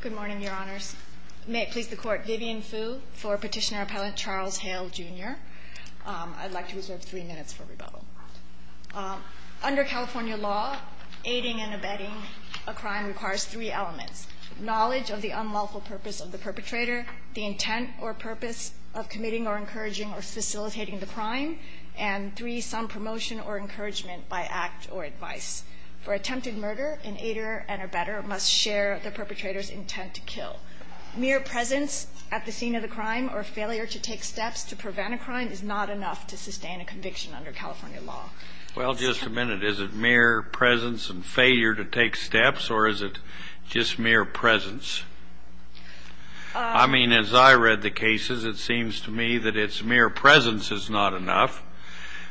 Good morning, Your Honors. May it please the Court, Vivian Fu for Petitioner-Appellant Charles Hale, Jr. I'd like to reserve three minutes for rebuttal. Under California law, aiding and abetting a crime requires three elements. Knowledge of the unlawful purpose of the perpetrator, the intent or purpose of committing or encouraging or facilitating the crime, and three, some promotion or encouragement by act or advice. For attempted murder, an aider and abetter must share the perpetrator's intent to kill. Mere presence at the scene of the crime or failure to take steps to prevent a crime is not enough to sustain a conviction under California law. Well, just a minute. Is it mere presence and failure to take steps, or is it just mere presence? I mean, as I read the cases, it seems to me that it's mere presence is not enough.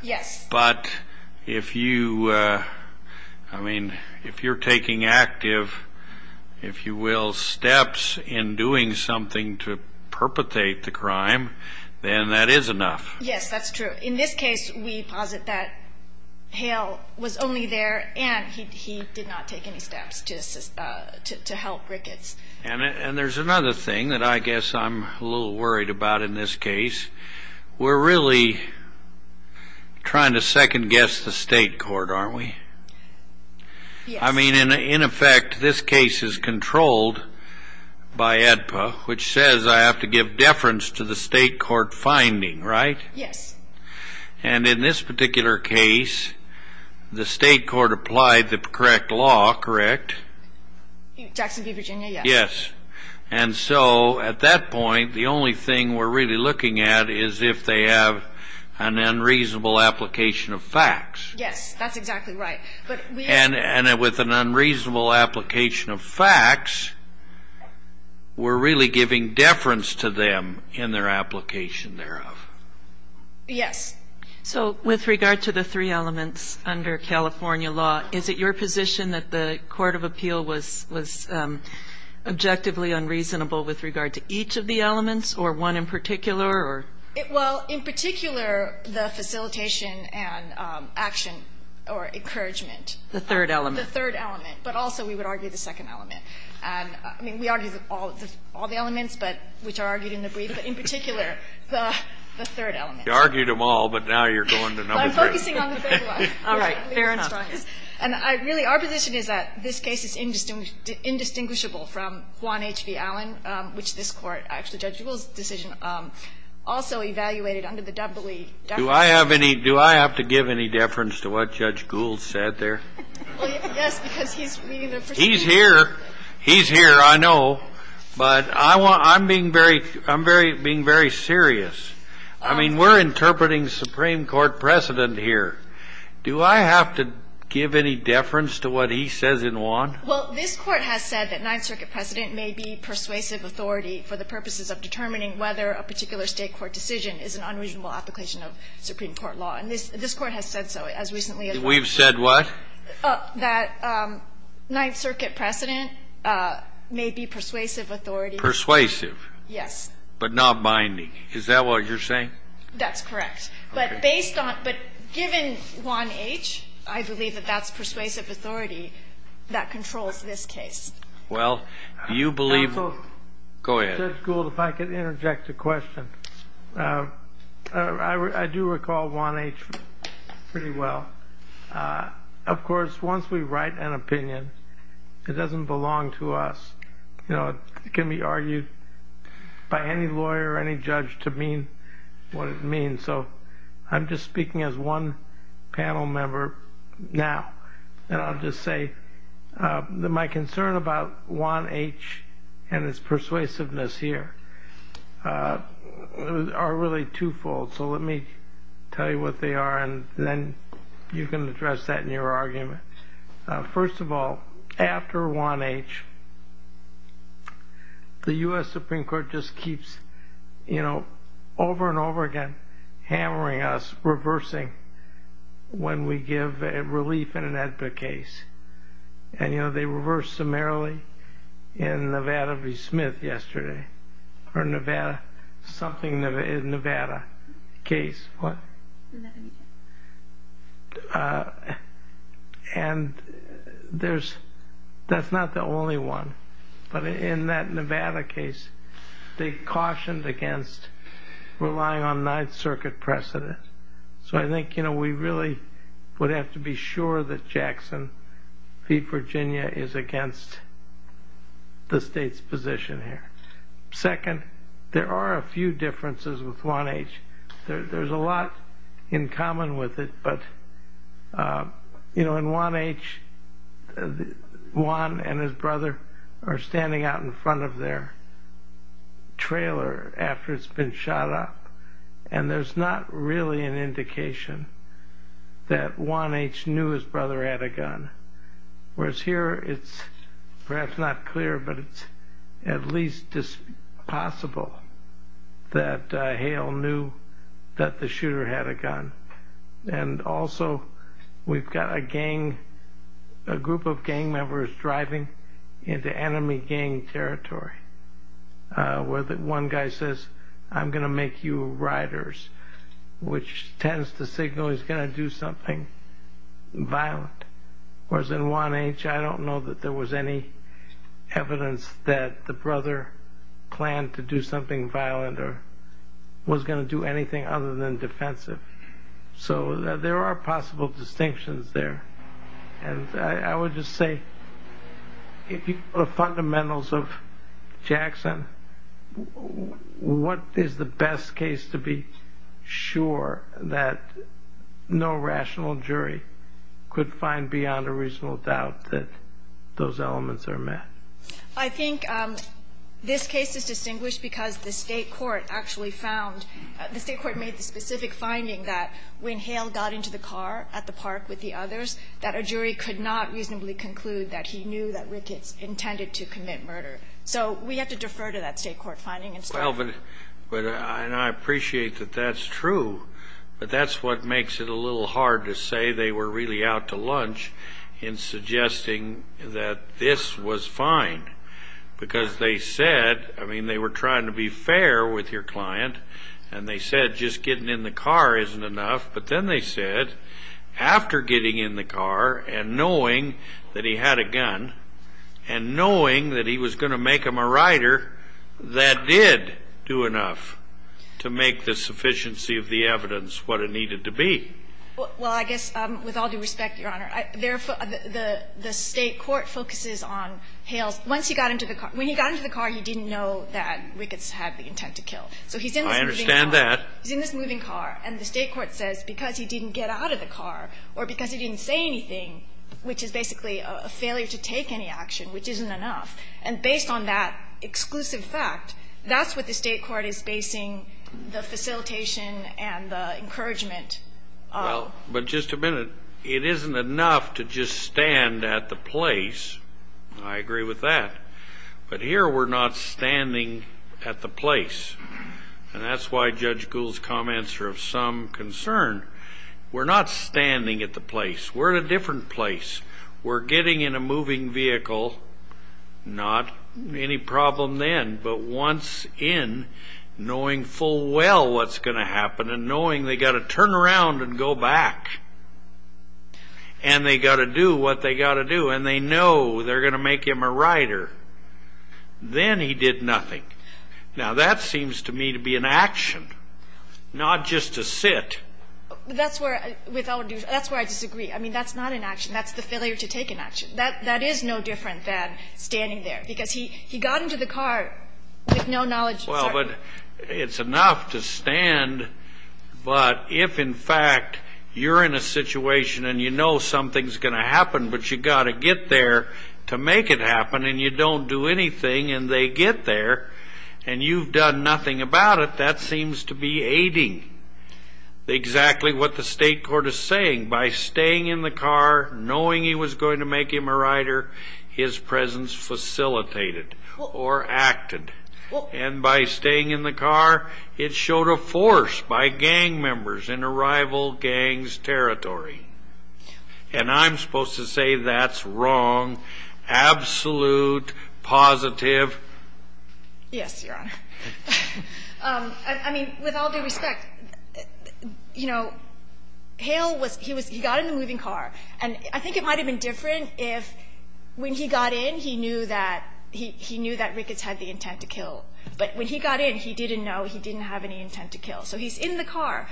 Yes. But if you, I mean, if you're taking active, if you will, steps in doing something to perpetrate the crime, then that is enough. Yes, that's true. In this case, we posit that Hale was only there and he did not take any steps to help Ricketts. And there's another thing that I guess I'm a little worried about in this case. We're really trying to second guess the state court, aren't we? Yes. I mean, in effect, this case is controlled by AEDPA, which says I have to give deference to the state court finding, right? Yes. And in this particular case, the state court applied the correct law, correct? Jacksonville, Virginia, yes. And so at that point, the only thing we're really looking at is if they have an unreasonable application of facts. Yes, that's exactly right. And with an unreasonable application of facts, we're really giving deference to them in their application thereof. Yes. So with regard to the three elements under California law, is it your position that the court of appeal was objectively unreasonable with regard to each of the elements or one in particular or? Well, in particular, the facilitation and action or encouragement. The third element. The third element. But also we would argue the second element. I mean, we argue all the elements, but which are argued in the brief, but in particular, the third element. You argued them all, but now you're going to number three. I'm focusing on the third one. All right. Fair enough. And really, our position is that this case is indistinguishable from Juan H.V. Allen, which this Court, actually Judge Gould's decision, also evaluated under the W. Do I have any do I have to give any deference to what Judge Gould said there? Well, yes, because he's reading the proceedings. He's here. He's here. I know. But I'm being very serious. I mean, we're interpreting Supreme Court precedent here. Do I have to give any deference to what he says in Juan? Well, this Court has said that Ninth Circuit precedent may be persuasive authority for the purposes of determining whether a particular State court decision is an unreasonable application of Supreme Court law. And this Court has said so, as recently as last week. We've said what? That Ninth Circuit precedent may be persuasive authority. Persuasive. Yes. But not binding. Is that what you're saying? That's correct. Okay. But based on, but given Juan H., I believe that that's persuasive authority that controls this case. Well, you believe. Counsel. Go ahead. Judge Gould, if I could interject a question. I do recall Juan H. pretty well. Of course, once we write an opinion, it doesn't belong to us. It can be argued by any lawyer or any judge to mean what it means. So I'm just speaking as one panel member now. And I'll just say that my concern about Juan H. and his persuasiveness here are really twofold. So let me tell you what they are, and then you can address that in your argument. First of all, after Juan H., the U.S. Supreme Court just keeps, you know, over and over again, hammering us, reversing when we give relief in an AEDPA case. And, you know, they reversed summarily in Nevada v. Smith yesterday. Or Nevada, something Nevada case. What? And that's not the only one. But in that Nevada case, they cautioned against relying on Ninth Circuit precedent. So I think, you know, we really would have to be sure that Jackson v. Virginia is against the state's position here. Second, there are a few differences with Juan H. There's a lot in common with it, but, you know, in Juan H., Juan and his brother are standing out in front of their trailer after it's been shot up, and there's not really an indication that Juan H. knew his brother had a gun. Whereas here, it's perhaps not clear, but it's at least possible that Hale knew that the shooter had a gun. And also, we've got a gang, a group of gang members driving into enemy gang territory, where one guy says, I'm going to make you riders, which tends to signal he's going to do something violent. Whereas in Juan H., I don't know that there was any evidence that the brother planned to do something violent or was going to do anything other than defensive. So there are possible distinctions there. And I would just say, if you put the fundamentals of Jackson, what is the best case to be sure that no rational jury could find beyond a reasonable doubt that those elements are met? I think this case is distinguished because the state court actually found, the state court made the specific finding that when Hale got into the car at the park with the others, that a jury could not reasonably conclude that he knew that Ricketts intended to commit murder. So we have to defer to that state court finding and start from there. But I appreciate that that's true, but that's what makes it a little hard to say they were really out to lunch in suggesting that this was fine, because they said, I mean, they were trying to be fair with your client, and they said just getting in the car isn't enough. But then they said, after getting in the car and knowing that he had a gun and knowing that he was going to make him a rider, that did do enough to make the sufficiency of the evidence what it needed to be. Well, I guess, with all due respect, Your Honor, the state court focuses on Hale's – once he got into the car. When he got into the car, he didn't know that Ricketts had the intent to kill. So he's in this moving car. I understand that. He's in this moving car, and the state court says because he didn't get out of the car or because he didn't say anything, which is basically a failure to take any action, which isn't enough. And based on that exclusive fact, that's what the state court is basing the facilitation and the encouragement on. Well, but just a minute. It isn't enough to just stand at the place. I agree with that. But here we're not standing at the place. And that's why Judge Gould's comments are of some concern. We're not standing at the place. We're at a different place. We're getting in a moving vehicle, not any problem then, but once in, knowing full well what's going to happen and knowing they've got to turn around and go back. And they've got to do what they've got to do. And they know they're going to make him a writer. Then he did nothing. Now, that seems to me to be an action, not just a sit. That's where I disagree. I mean, that's not an action. That's the failure to take an action. That is no different than standing there because he got into the car with no knowledge. Well, but it's enough to stand. But if, in fact, you're in a situation and you know something's going to happen but you've got to get there to make it happen and you don't do anything and they get there and you've done nothing about it, that seems to be aiding exactly what the state court is saying. By staying in the car, knowing he was going to make him a writer, his presence facilitated or acted. And by staying in the car, it showed a force by gang members in a rival gang's territory. And I'm supposed to say that's wrong, absolute, positive. Yes, Your Honor. I mean, with all due respect, you know, Hale was he was he got in the moving car. And I think it might have been different if when he got in, he knew that Ricketts had the intent to kill. But when he got in, he didn't know he didn't have any intent to kill. So he's in the car.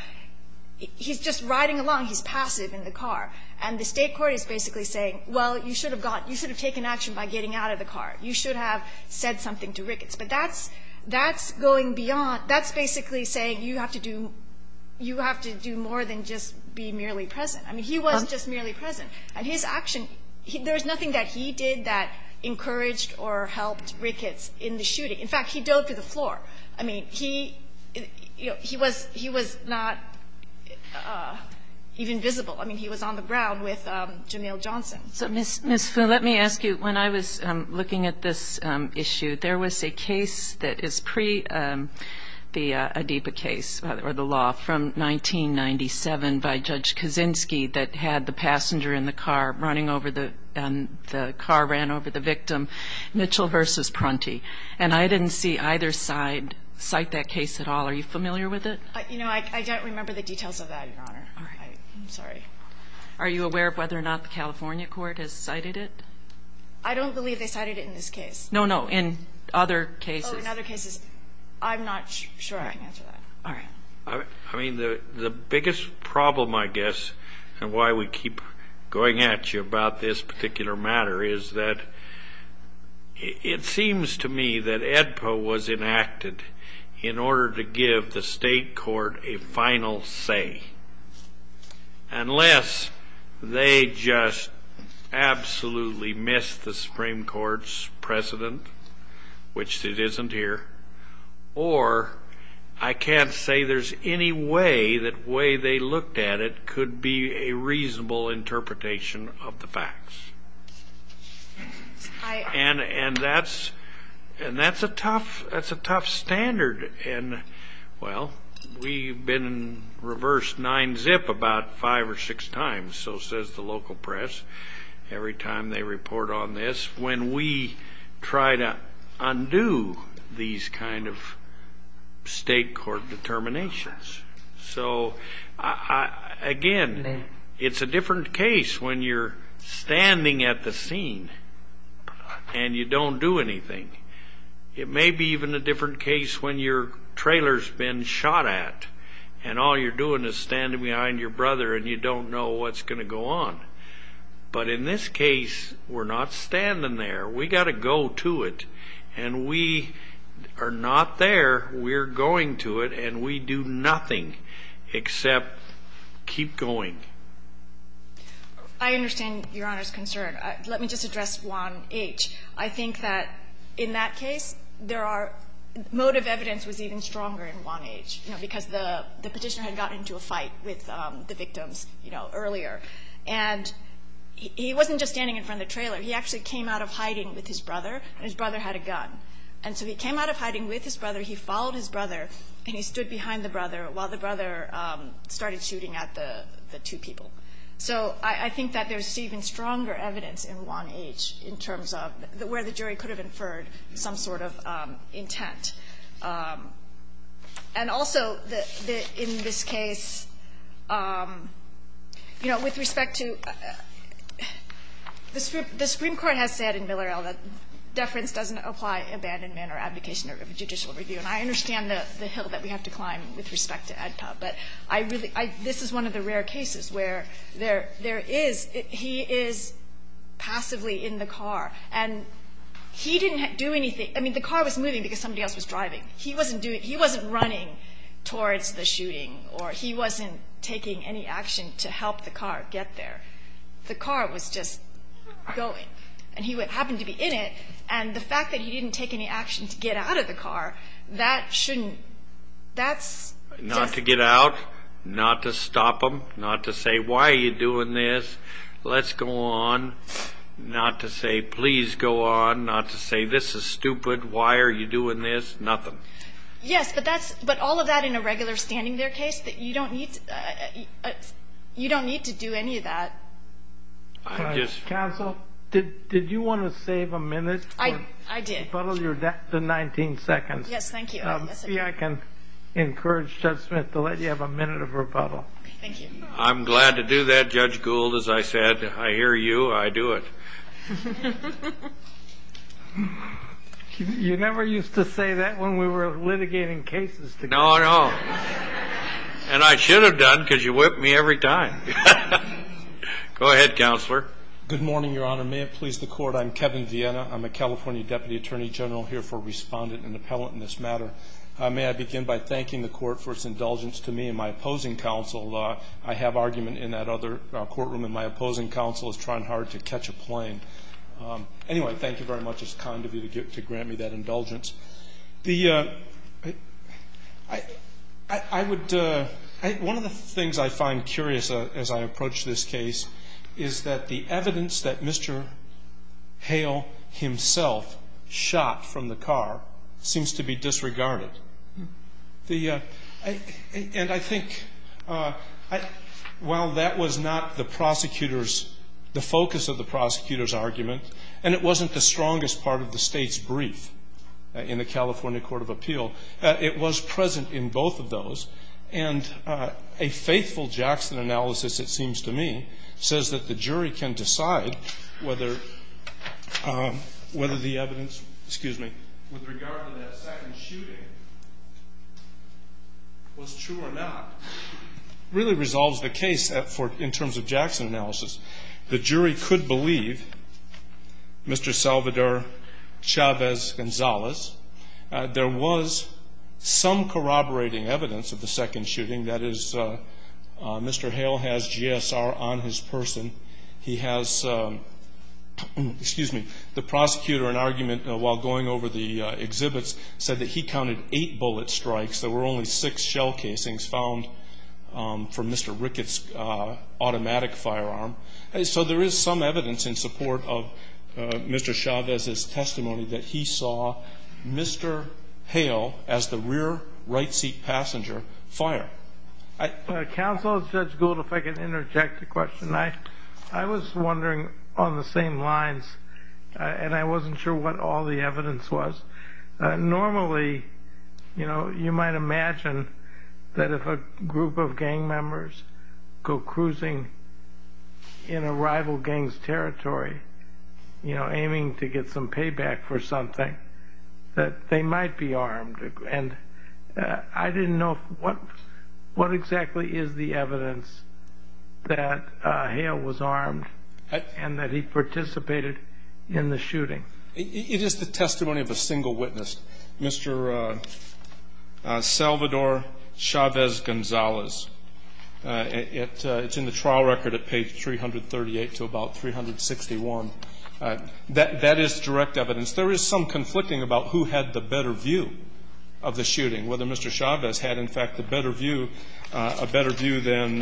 He's just riding along. He's passive in the car. And the state court is basically saying, well, you should have gotten, you should have taken action by getting out of the car. You should have said something to Ricketts. But that's going beyond, that's basically saying you have to do more than just be merely present. I mean, he wasn't just merely present. And his action, there was nothing that he did that encouraged or helped Ricketts in the shooting. In fact, he dove to the floor. I mean, he was not even visible. I mean, he was on the ground with Janelle Johnson. So, Ms. Foon, let me ask you, when I was looking at this issue, there was a case that is pre-the ADIPA case or the law from 1997 by Judge Kaczynski that had the passenger in the car running over the car, ran over the victim, Mitchell versus Prunty. And I didn't see either side cite that case at all. Are you familiar with it? You know, I don't remember the details of that, Your Honor. All right. I'm sorry. Are you aware of whether or not the California court has cited it? I don't believe they cited it in this case. No, no, in other cases. Oh, in other cases. I'm not sure I can answer that. All right. I mean, the biggest problem, I guess, and why we keep going at you about this particular matter, is that it seems to me that ADIPA was enacted in order to give the state court a final say, unless they just absolutely missed the Supreme Court's precedent, which it isn't here, or I can't say there's any way that the way they looked at it could be a reasonable interpretation of the facts. And that's a tough standard. And, well, we've been in reverse 9-zip about five or six times, so says the local press, every time they report on this, when we try to undo these kind of state court determinations. So, again, it's a different case when you're standing at the scene and you don't do anything. It may be even a different case when your trailer's been shot at and all you're doing is standing behind your brother and you don't know what's going to go on. But in this case, we're not standing there. We've got to go to it. And we are not there, we're going to it, and we do nothing except keep going. I understand Your Honor's concern. Let me just address 1H. I think that in that case, motive evidence was even stronger in 1H, because the petitioner had gotten into a fight with the victims earlier. And he wasn't just standing in front of the trailer. He actually came out of hiding with his brother, and his brother had a gun. And so he came out of hiding with his brother, he followed his brother, and he stood behind the brother while the brother started shooting at the two people. So I think that there's even stronger evidence in 1H, in terms of where the jury could have inferred some sort of intent. And also, in this case, you know, with respect to the Supreme Court has said in Miller-Ell that deference doesn't apply to abandonment or abdication of a judicial review. And I understand the hill that we have to climb with respect to AEDPA. But this is one of the rare cases where he is passively in the car. And he didn't do anything. I mean, the car was moving because somebody else was driving. He wasn't running towards the shooting, or he wasn't taking any action to help the car get there. The car was just going, and he happened to be in it. And the fact that he didn't take any action to get out of the car, that shouldn't – that's just – Not to get out. Not to stop him. Not to say, why are you doing this? Let's go on. Not to say, please go on. Not to say, this is stupid. Why are you doing this? Nothing. Yes, but that's – but all of that in a regular standing there case, you don't need to do any of that. Counsel, did you want to save a minute? I did. Follow your 19 seconds. Yes, thank you. See, I can encourage Judge Smith to let you have a minute of rebuttal. Thank you. I'm glad to do that, Judge Gould. As I said, I hear you, I do it. You never used to say that when we were litigating cases together. No, no. And I should have done because you whip me every time. Go ahead, Counselor. Good morning, Your Honor. May it please the Court, I'm Kevin Viena. I'm a California Deputy Attorney General here for Respondent and Appellant in this matter. May I begin by thanking the Court for its indulgence to me and my opposing counsel. I have argument in that other courtroom, and my opposing counsel is trying hard to catch a plane. Anyway, thank you very much. It's kind of you to grant me that indulgence. One of the things I find curious as I approach this case is that the evidence that Mr. Hale himself shot from the car seems to be disregarded. And I think while that was not the prosecutor's, the focus of the prosecutor's argument, and it wasn't the strongest part of the State's brief, in the California Court of Appeal, it was present in both of those. And a faithful Jackson analysis, it seems to me, says that the jury can decide whether the evidence, excuse me, with regard to that second shooting was true or not, really resolves the case in terms of Jackson analysis. The jury could believe Mr. Salvador Chavez-Gonzalez. There was some corroborating evidence of the second shooting. That is, Mr. Hale has GSR on his person. He has, excuse me, the prosecutor in argument while going over the exhibits said that he counted eight bullet strikes. There were only six shell casings found from Mr. Ricketts' automatic firearm. So there is some evidence in support of Mr. Chavez's testimony that he saw Mr. Hale as the rear right seat passenger fire. Counsel, Judge Gould, if I could interject a question. I was wondering on the same lines, and I wasn't sure what all the evidence was. Normally, you know, you might imagine that if a group of gang members go cruising in a rival gang's territory, you know, aiming to get some payback for something, that they might be armed. And I didn't know what exactly is the evidence that Hale was armed and that he participated in the shooting. It is the testimony of a single witness, Mr. Salvador Chavez-Gonzalez. It's in the trial record at page 338 to about 361. That is direct evidence. There is some conflicting about who had the better view of the shooting, whether Mr. Chavez had, in fact, the better view, a better view than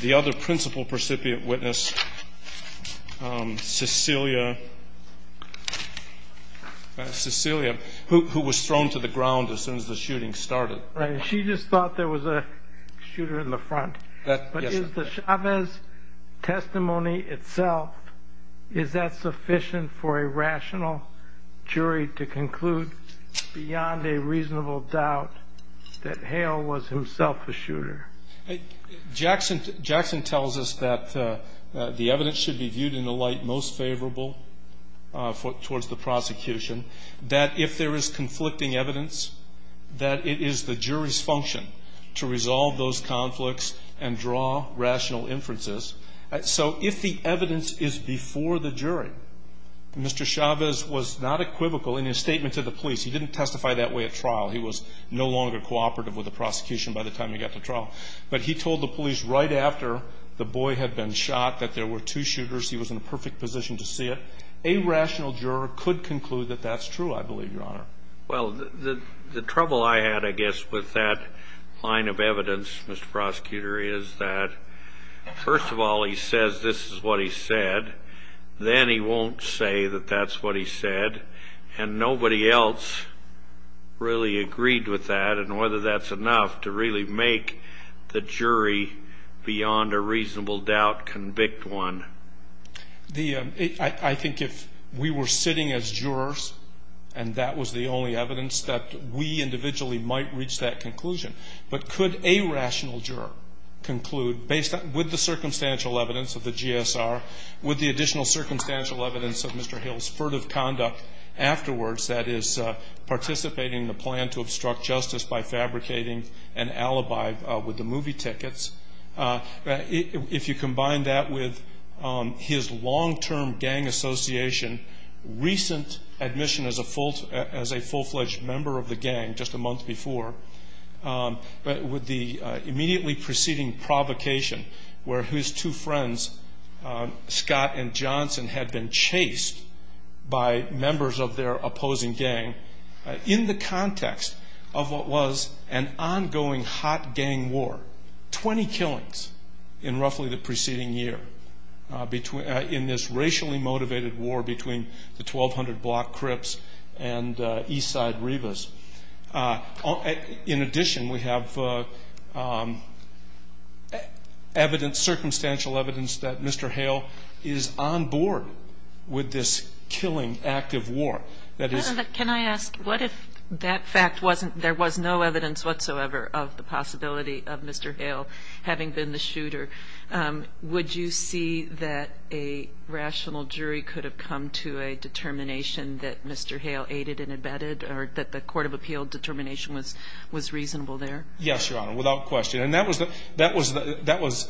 the other principal precipient witness, Cecilia, Cecilia, who was thrown to the ground as soon as the shooting started. She just thought there was a shooter in the front. But is the Chavez testimony itself, is that sufficient for a rational jury to conclude beyond a reasonable doubt that Hale was himself a shooter? Jackson tells us that the evidence should be viewed in the light most favorable towards the prosecution, that if there is conflicting evidence, that it is the jury's function to resolve those conflicts and draw rational inferences. So if the evidence is before the jury, Mr. Chavez was not equivocal in his statement to the police. He didn't testify that way at trial. He was no longer cooperative with the prosecution by the time he got to trial. But he told the police right after the boy had been shot that there were two shooters. He was in a perfect position to see it. A rational juror could conclude that that's true, I believe, Your Honor. Well, the trouble I had, I guess, with that line of evidence, Mr. Prosecutor, is that first of all, he says this is what he said. Then he won't say that that's what he said. And nobody else really agreed with that and whether that's enough to really make the jury beyond a reasonable doubt convict one. I think if we were sitting as jurors and that was the only evidence, that we individually might reach that conclusion. But could a rational juror conclude with the circumstantial evidence of the GSR, with the additional circumstantial evidence of Mr. Hill's furtive conduct afterwards, that is, participating in the plan to obstruct justice by fabricating an alibi with the movie tickets, if you combine that with his long-term gang association, recent admission as a full-fledged member of the gang just a month before, with the immediately preceding provocation where his two friends, Scott and Johnson, had been chased by members of their opposing gang in the context of what was an ongoing hot gang war, 20 killings in roughly the preceding year in this racially motivated war between the 1,200 block Crips and east side Rivas. In addition, we have circumstantial evidence that Mr. Hale is on board with this killing active war. Can I ask, what if that fact wasn't, there was no evidence whatsoever of the possibility of Mr. Hale having been the shooter? Would you see that a rational jury could have come to a determination that Mr. Hale aided and abetted or that the court of appeal determination was reasonable there? Yes, Your Honor, without question. And that was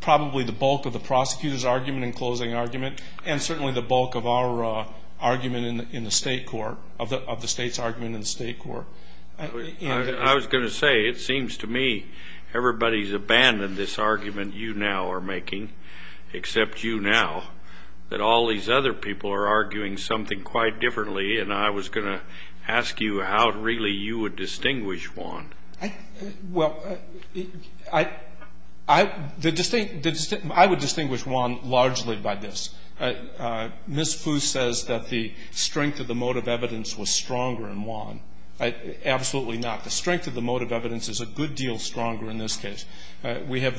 probably the bulk of the prosecutor's argument and closing argument and certainly the bulk of our argument in the state court, of the state's argument in the state court. I was going to say, it seems to me everybody's abandoned this argument you now are making, except you now, that all these other people are arguing something quite differently, and I was going to ask you how really you would distinguish one. Well, I would distinguish one largely by this. Ms. Foose says that the strength of the motive evidence was stronger in Juan. Absolutely not. The strength of the motive evidence is a good deal stronger in this case. We have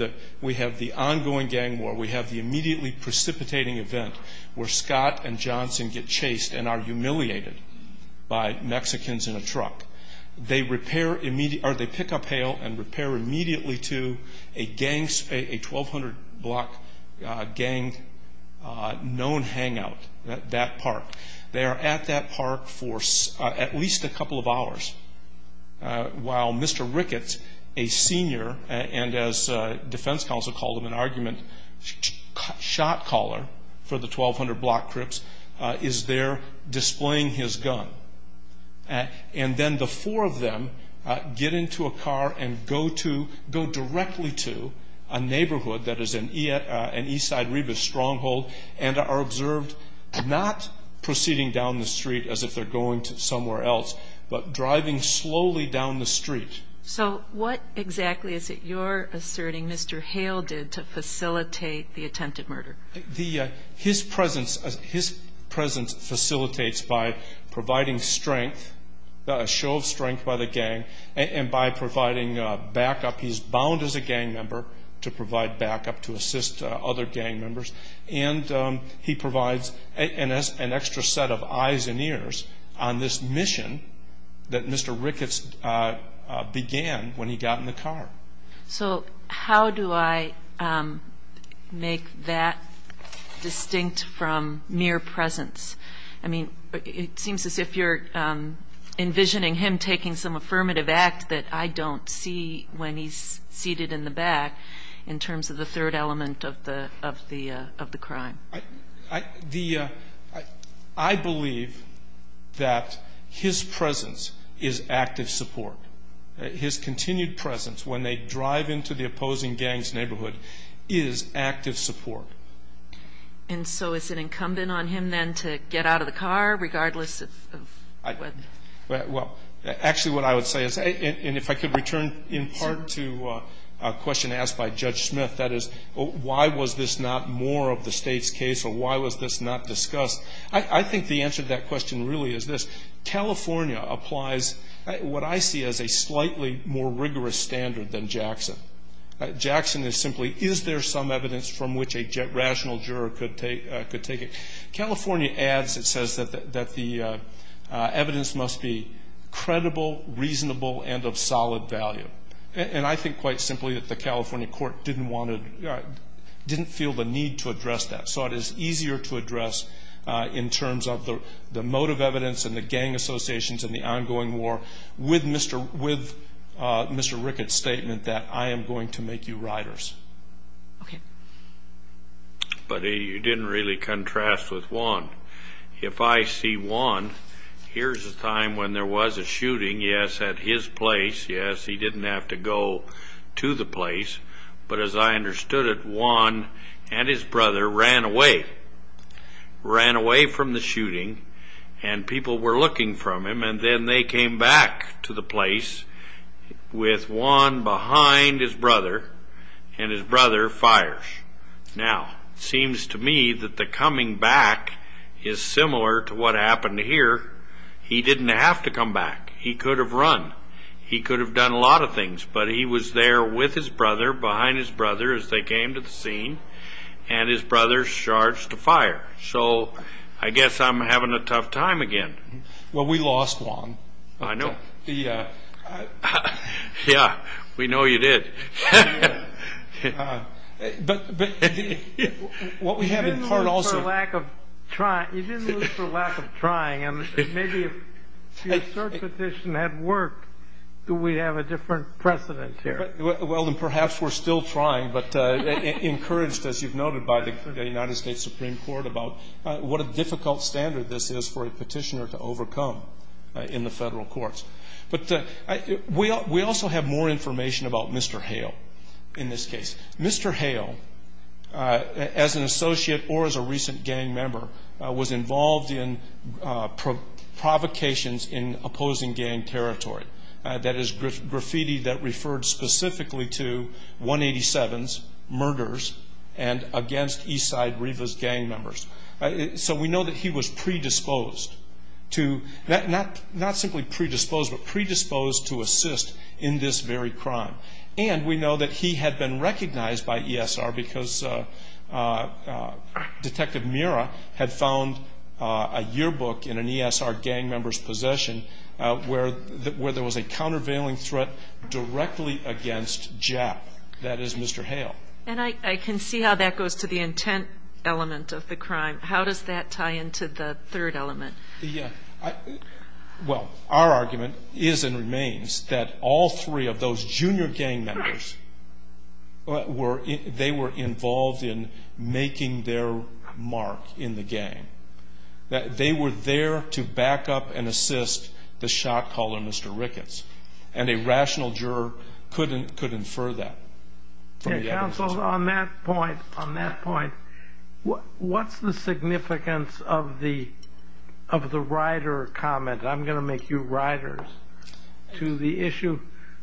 the ongoing gang war. We have the immediately precipitating event where Scott and Johnson get chased and are humiliated by Mexicans in a truck. They pick up Hale and repair immediately to a 1,200-block gang known hangout, that park. They are at that park for at least a couple of hours while Mr. Ricketts, a senior, and as defense counsel called him in argument, shot caller for the 1,200-block crips, is there displaying his gun. And then the four of them get into a car and go directly to a neighborhood that is an East Side Rebus stronghold and are observed not proceeding down the street as if they're going somewhere else, but driving slowly down the street. So what exactly is it you're asserting Mr. Hale did to facilitate the attempted murder? His presence facilitates by providing strength, a show of strength by the gang, and by providing backup. He's bound as a gang member to provide backup to assist other gang members. And he provides an extra set of eyes and ears on this mission that Mr. Ricketts began when he got in the car. So how do I make that distinct from mere presence? I mean, it seems as if you're envisioning him taking some affirmative act that I don't see when he's seated in the back in terms of the third element of the crime. I believe that his presence is active support. His continued presence when they drive into the opposing gang's neighborhood is active support. And so is it incumbent on him then to get out of the car regardless of what? Well, actually what I would say is, and if I could return in part to a question asked by Judge Smith, that is why was this not more of the state's case or why was this not discussed? I think the answer to that question really is this. California applies what I see as a slightly more rigorous standard than Jackson. Jackson is simply, is there some evidence from which a rational juror could take it? California adds, it says, that the evidence must be credible, reasonable, and of solid value. And I think quite simply that the California court didn't want to, didn't feel the need to address that. So it is easier to address in terms of the motive evidence and the gang associations and the ongoing war with Mr. Ricketts' statement that I am going to make you riders. Okay. But you didn't really contrast with Juan. If I see Juan, here's a time when there was a shooting, yes, at his place. Yes, he didn't have to go to the place. But as I understood it, Juan and his brother ran away. Ran away from the shooting and people were looking for him and then they came back to the place with Juan behind his brother and his brother fires. Now, it seems to me that the coming back is similar to what happened here. He didn't have to come back. He could have run. He could have done a lot of things. But he was there with his brother, behind his brother as they came to the scene, and his brother charged to fire. So I guess I'm having a tough time again. Well, we lost Juan. I know. Yeah, we know you did. What we have in part also – You didn't lose for lack of trying. Maybe if your cert petition had worked, we'd have a different precedent here. Well, then perhaps we're still trying, but encouraged as you've noted by the United States Supreme Court about what a difficult standard this is for a petitioner to overcome in the federal courts. But we also have more information about Mr. Hale in this case. Mr. Hale, as an associate or as a recent gang member, was involved in provocations in opposing gang territory. That is graffiti that referred specifically to 187's murders and against Eastside Rivas gang members. So we know that he was predisposed to – not simply predisposed, but predisposed to assist in this very crime. And we know that he had been recognized by ESR because Detective Mira had found a yearbook in an ESR gang member's possession where there was a countervailing threat directly against JAP. That is Mr. Hale. And I can see how that goes to the intent element of the crime. How does that tie into the third element? Well, our argument is and remains that all three of those junior gang members, they were involved in making their mark in the gang. They were there to back up and assist the shot caller, Mr. Ricketts. And a rational juror could infer that. Counsel, on that point, what's the significance of the rider comment, I'm going to make you riders, to the issue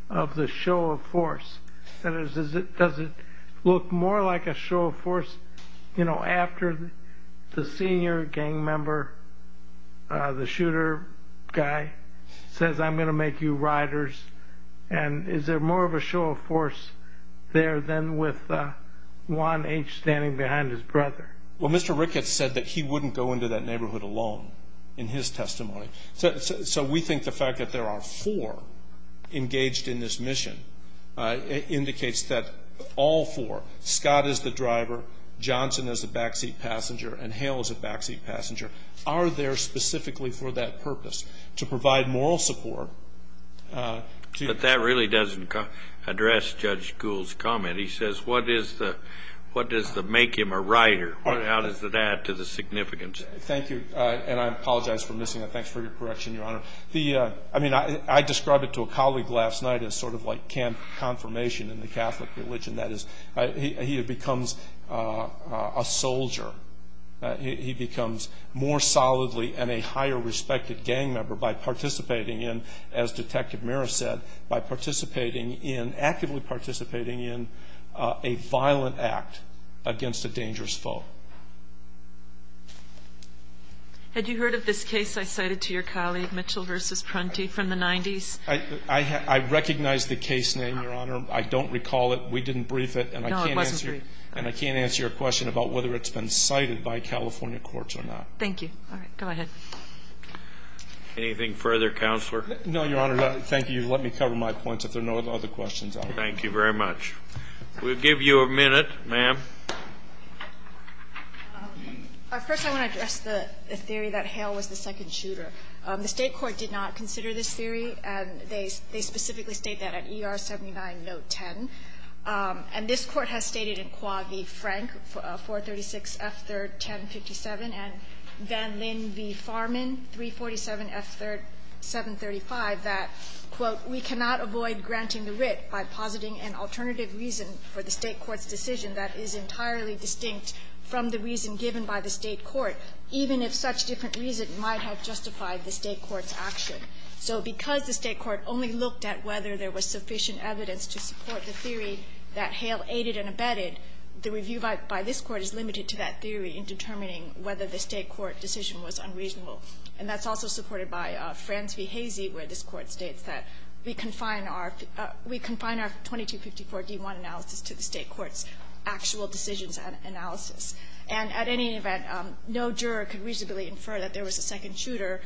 of the show of force? Does it look more like a show of force after the senior gang member, the shooter guy, says I'm going to make you riders? And is there more of a show of force there than with Juan H. standing behind his brother? Well, Mr. Ricketts said that he wouldn't go into that neighborhood alone in his testimony. So we think the fact that there are four engaged in this mission indicates that all four, Scott is the driver, Johnson is a backseat passenger, and Hale is a backseat passenger, are there specifically for that purpose, to provide moral support. But that really doesn't address Judge Gould's comment. He says what is the make him a rider? How does that add to the significance? Thank you. And I apologize for missing that. Thanks for your correction, Your Honor. I mean, I described it to a colleague last night as sort of like confirmation in the Catholic religion. That is, he becomes a soldier. He becomes more solidly and a higher respected gang member by participating in, as Detective Meris said, by participating in, actively participating in, a violent act against a dangerous foe. Had you heard of this case I cited to your colleague, Mitchell v. Prunty, from the 90s? I recognize the case name, Your Honor. I don't recall it. We didn't brief it. No, it wasn't briefed. And I can't answer your question about whether it's been cited by California courts or not. Thank you. All right. Go ahead. Anything further, Counselor? No, Your Honor. Thank you. Let me cover my points if there are no other questions. Thank you very much. We'll give you a minute, ma'am. First, I want to address the theory that Hale was the second shooter. The State court did not consider this theory, and they specifically state that at ER 79, Note 10. And this Court has stated in Quaggi-Frank, 436 F. 3rd, 1057, and Van Lin v. Farman, 347 F. 735, that, quote, we cannot avoid granting the writ by positing an alternative reason for the State court's decision that is entirely distinct from the reason given by the State court, even if such different reason might have justified the State court's action. So because the State court only looked at whether there was sufficient evidence to support the theory that Hale aided and abetted, the review by this Court is limited to that theory in determining whether the State court decision was unreasonable. And that's also supported by Frans v. Hazy, where this Court states that we confine our 2254 D1 analysis to the State court's actual decisions analysis. And at any event, no juror could reasonably infer that there was a second shooter.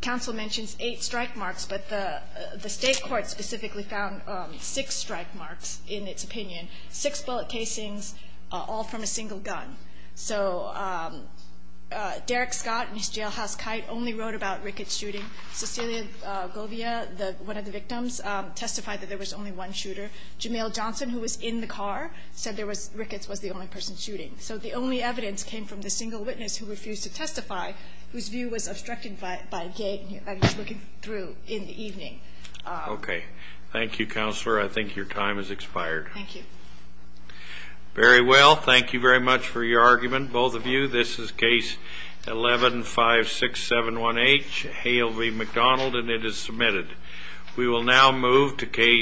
Counsel mentions eight strike marks, but the State court specifically found six strike marks in its opinion, six bullet casings, all from a single gun. So Derek Scott and his jailhouse kite only wrote about Ricketts shooting. Cecilia Govia, one of the victims, testified that there was only one shooter. Jamel Johnson, who was in the car, said there was – Ricketts was the only person shooting. So the only evidence came from the single witness who refused to testify, whose view was obstructed by a gate and he was looking through in the evening. Okay. Thank you, Counselor. I think your time has expired. Thank you. Very well. Thank you very much for your argument, both of you. This is Case 11-5671H, Hale v. McDonald, and it is submitted. We will now move to Case –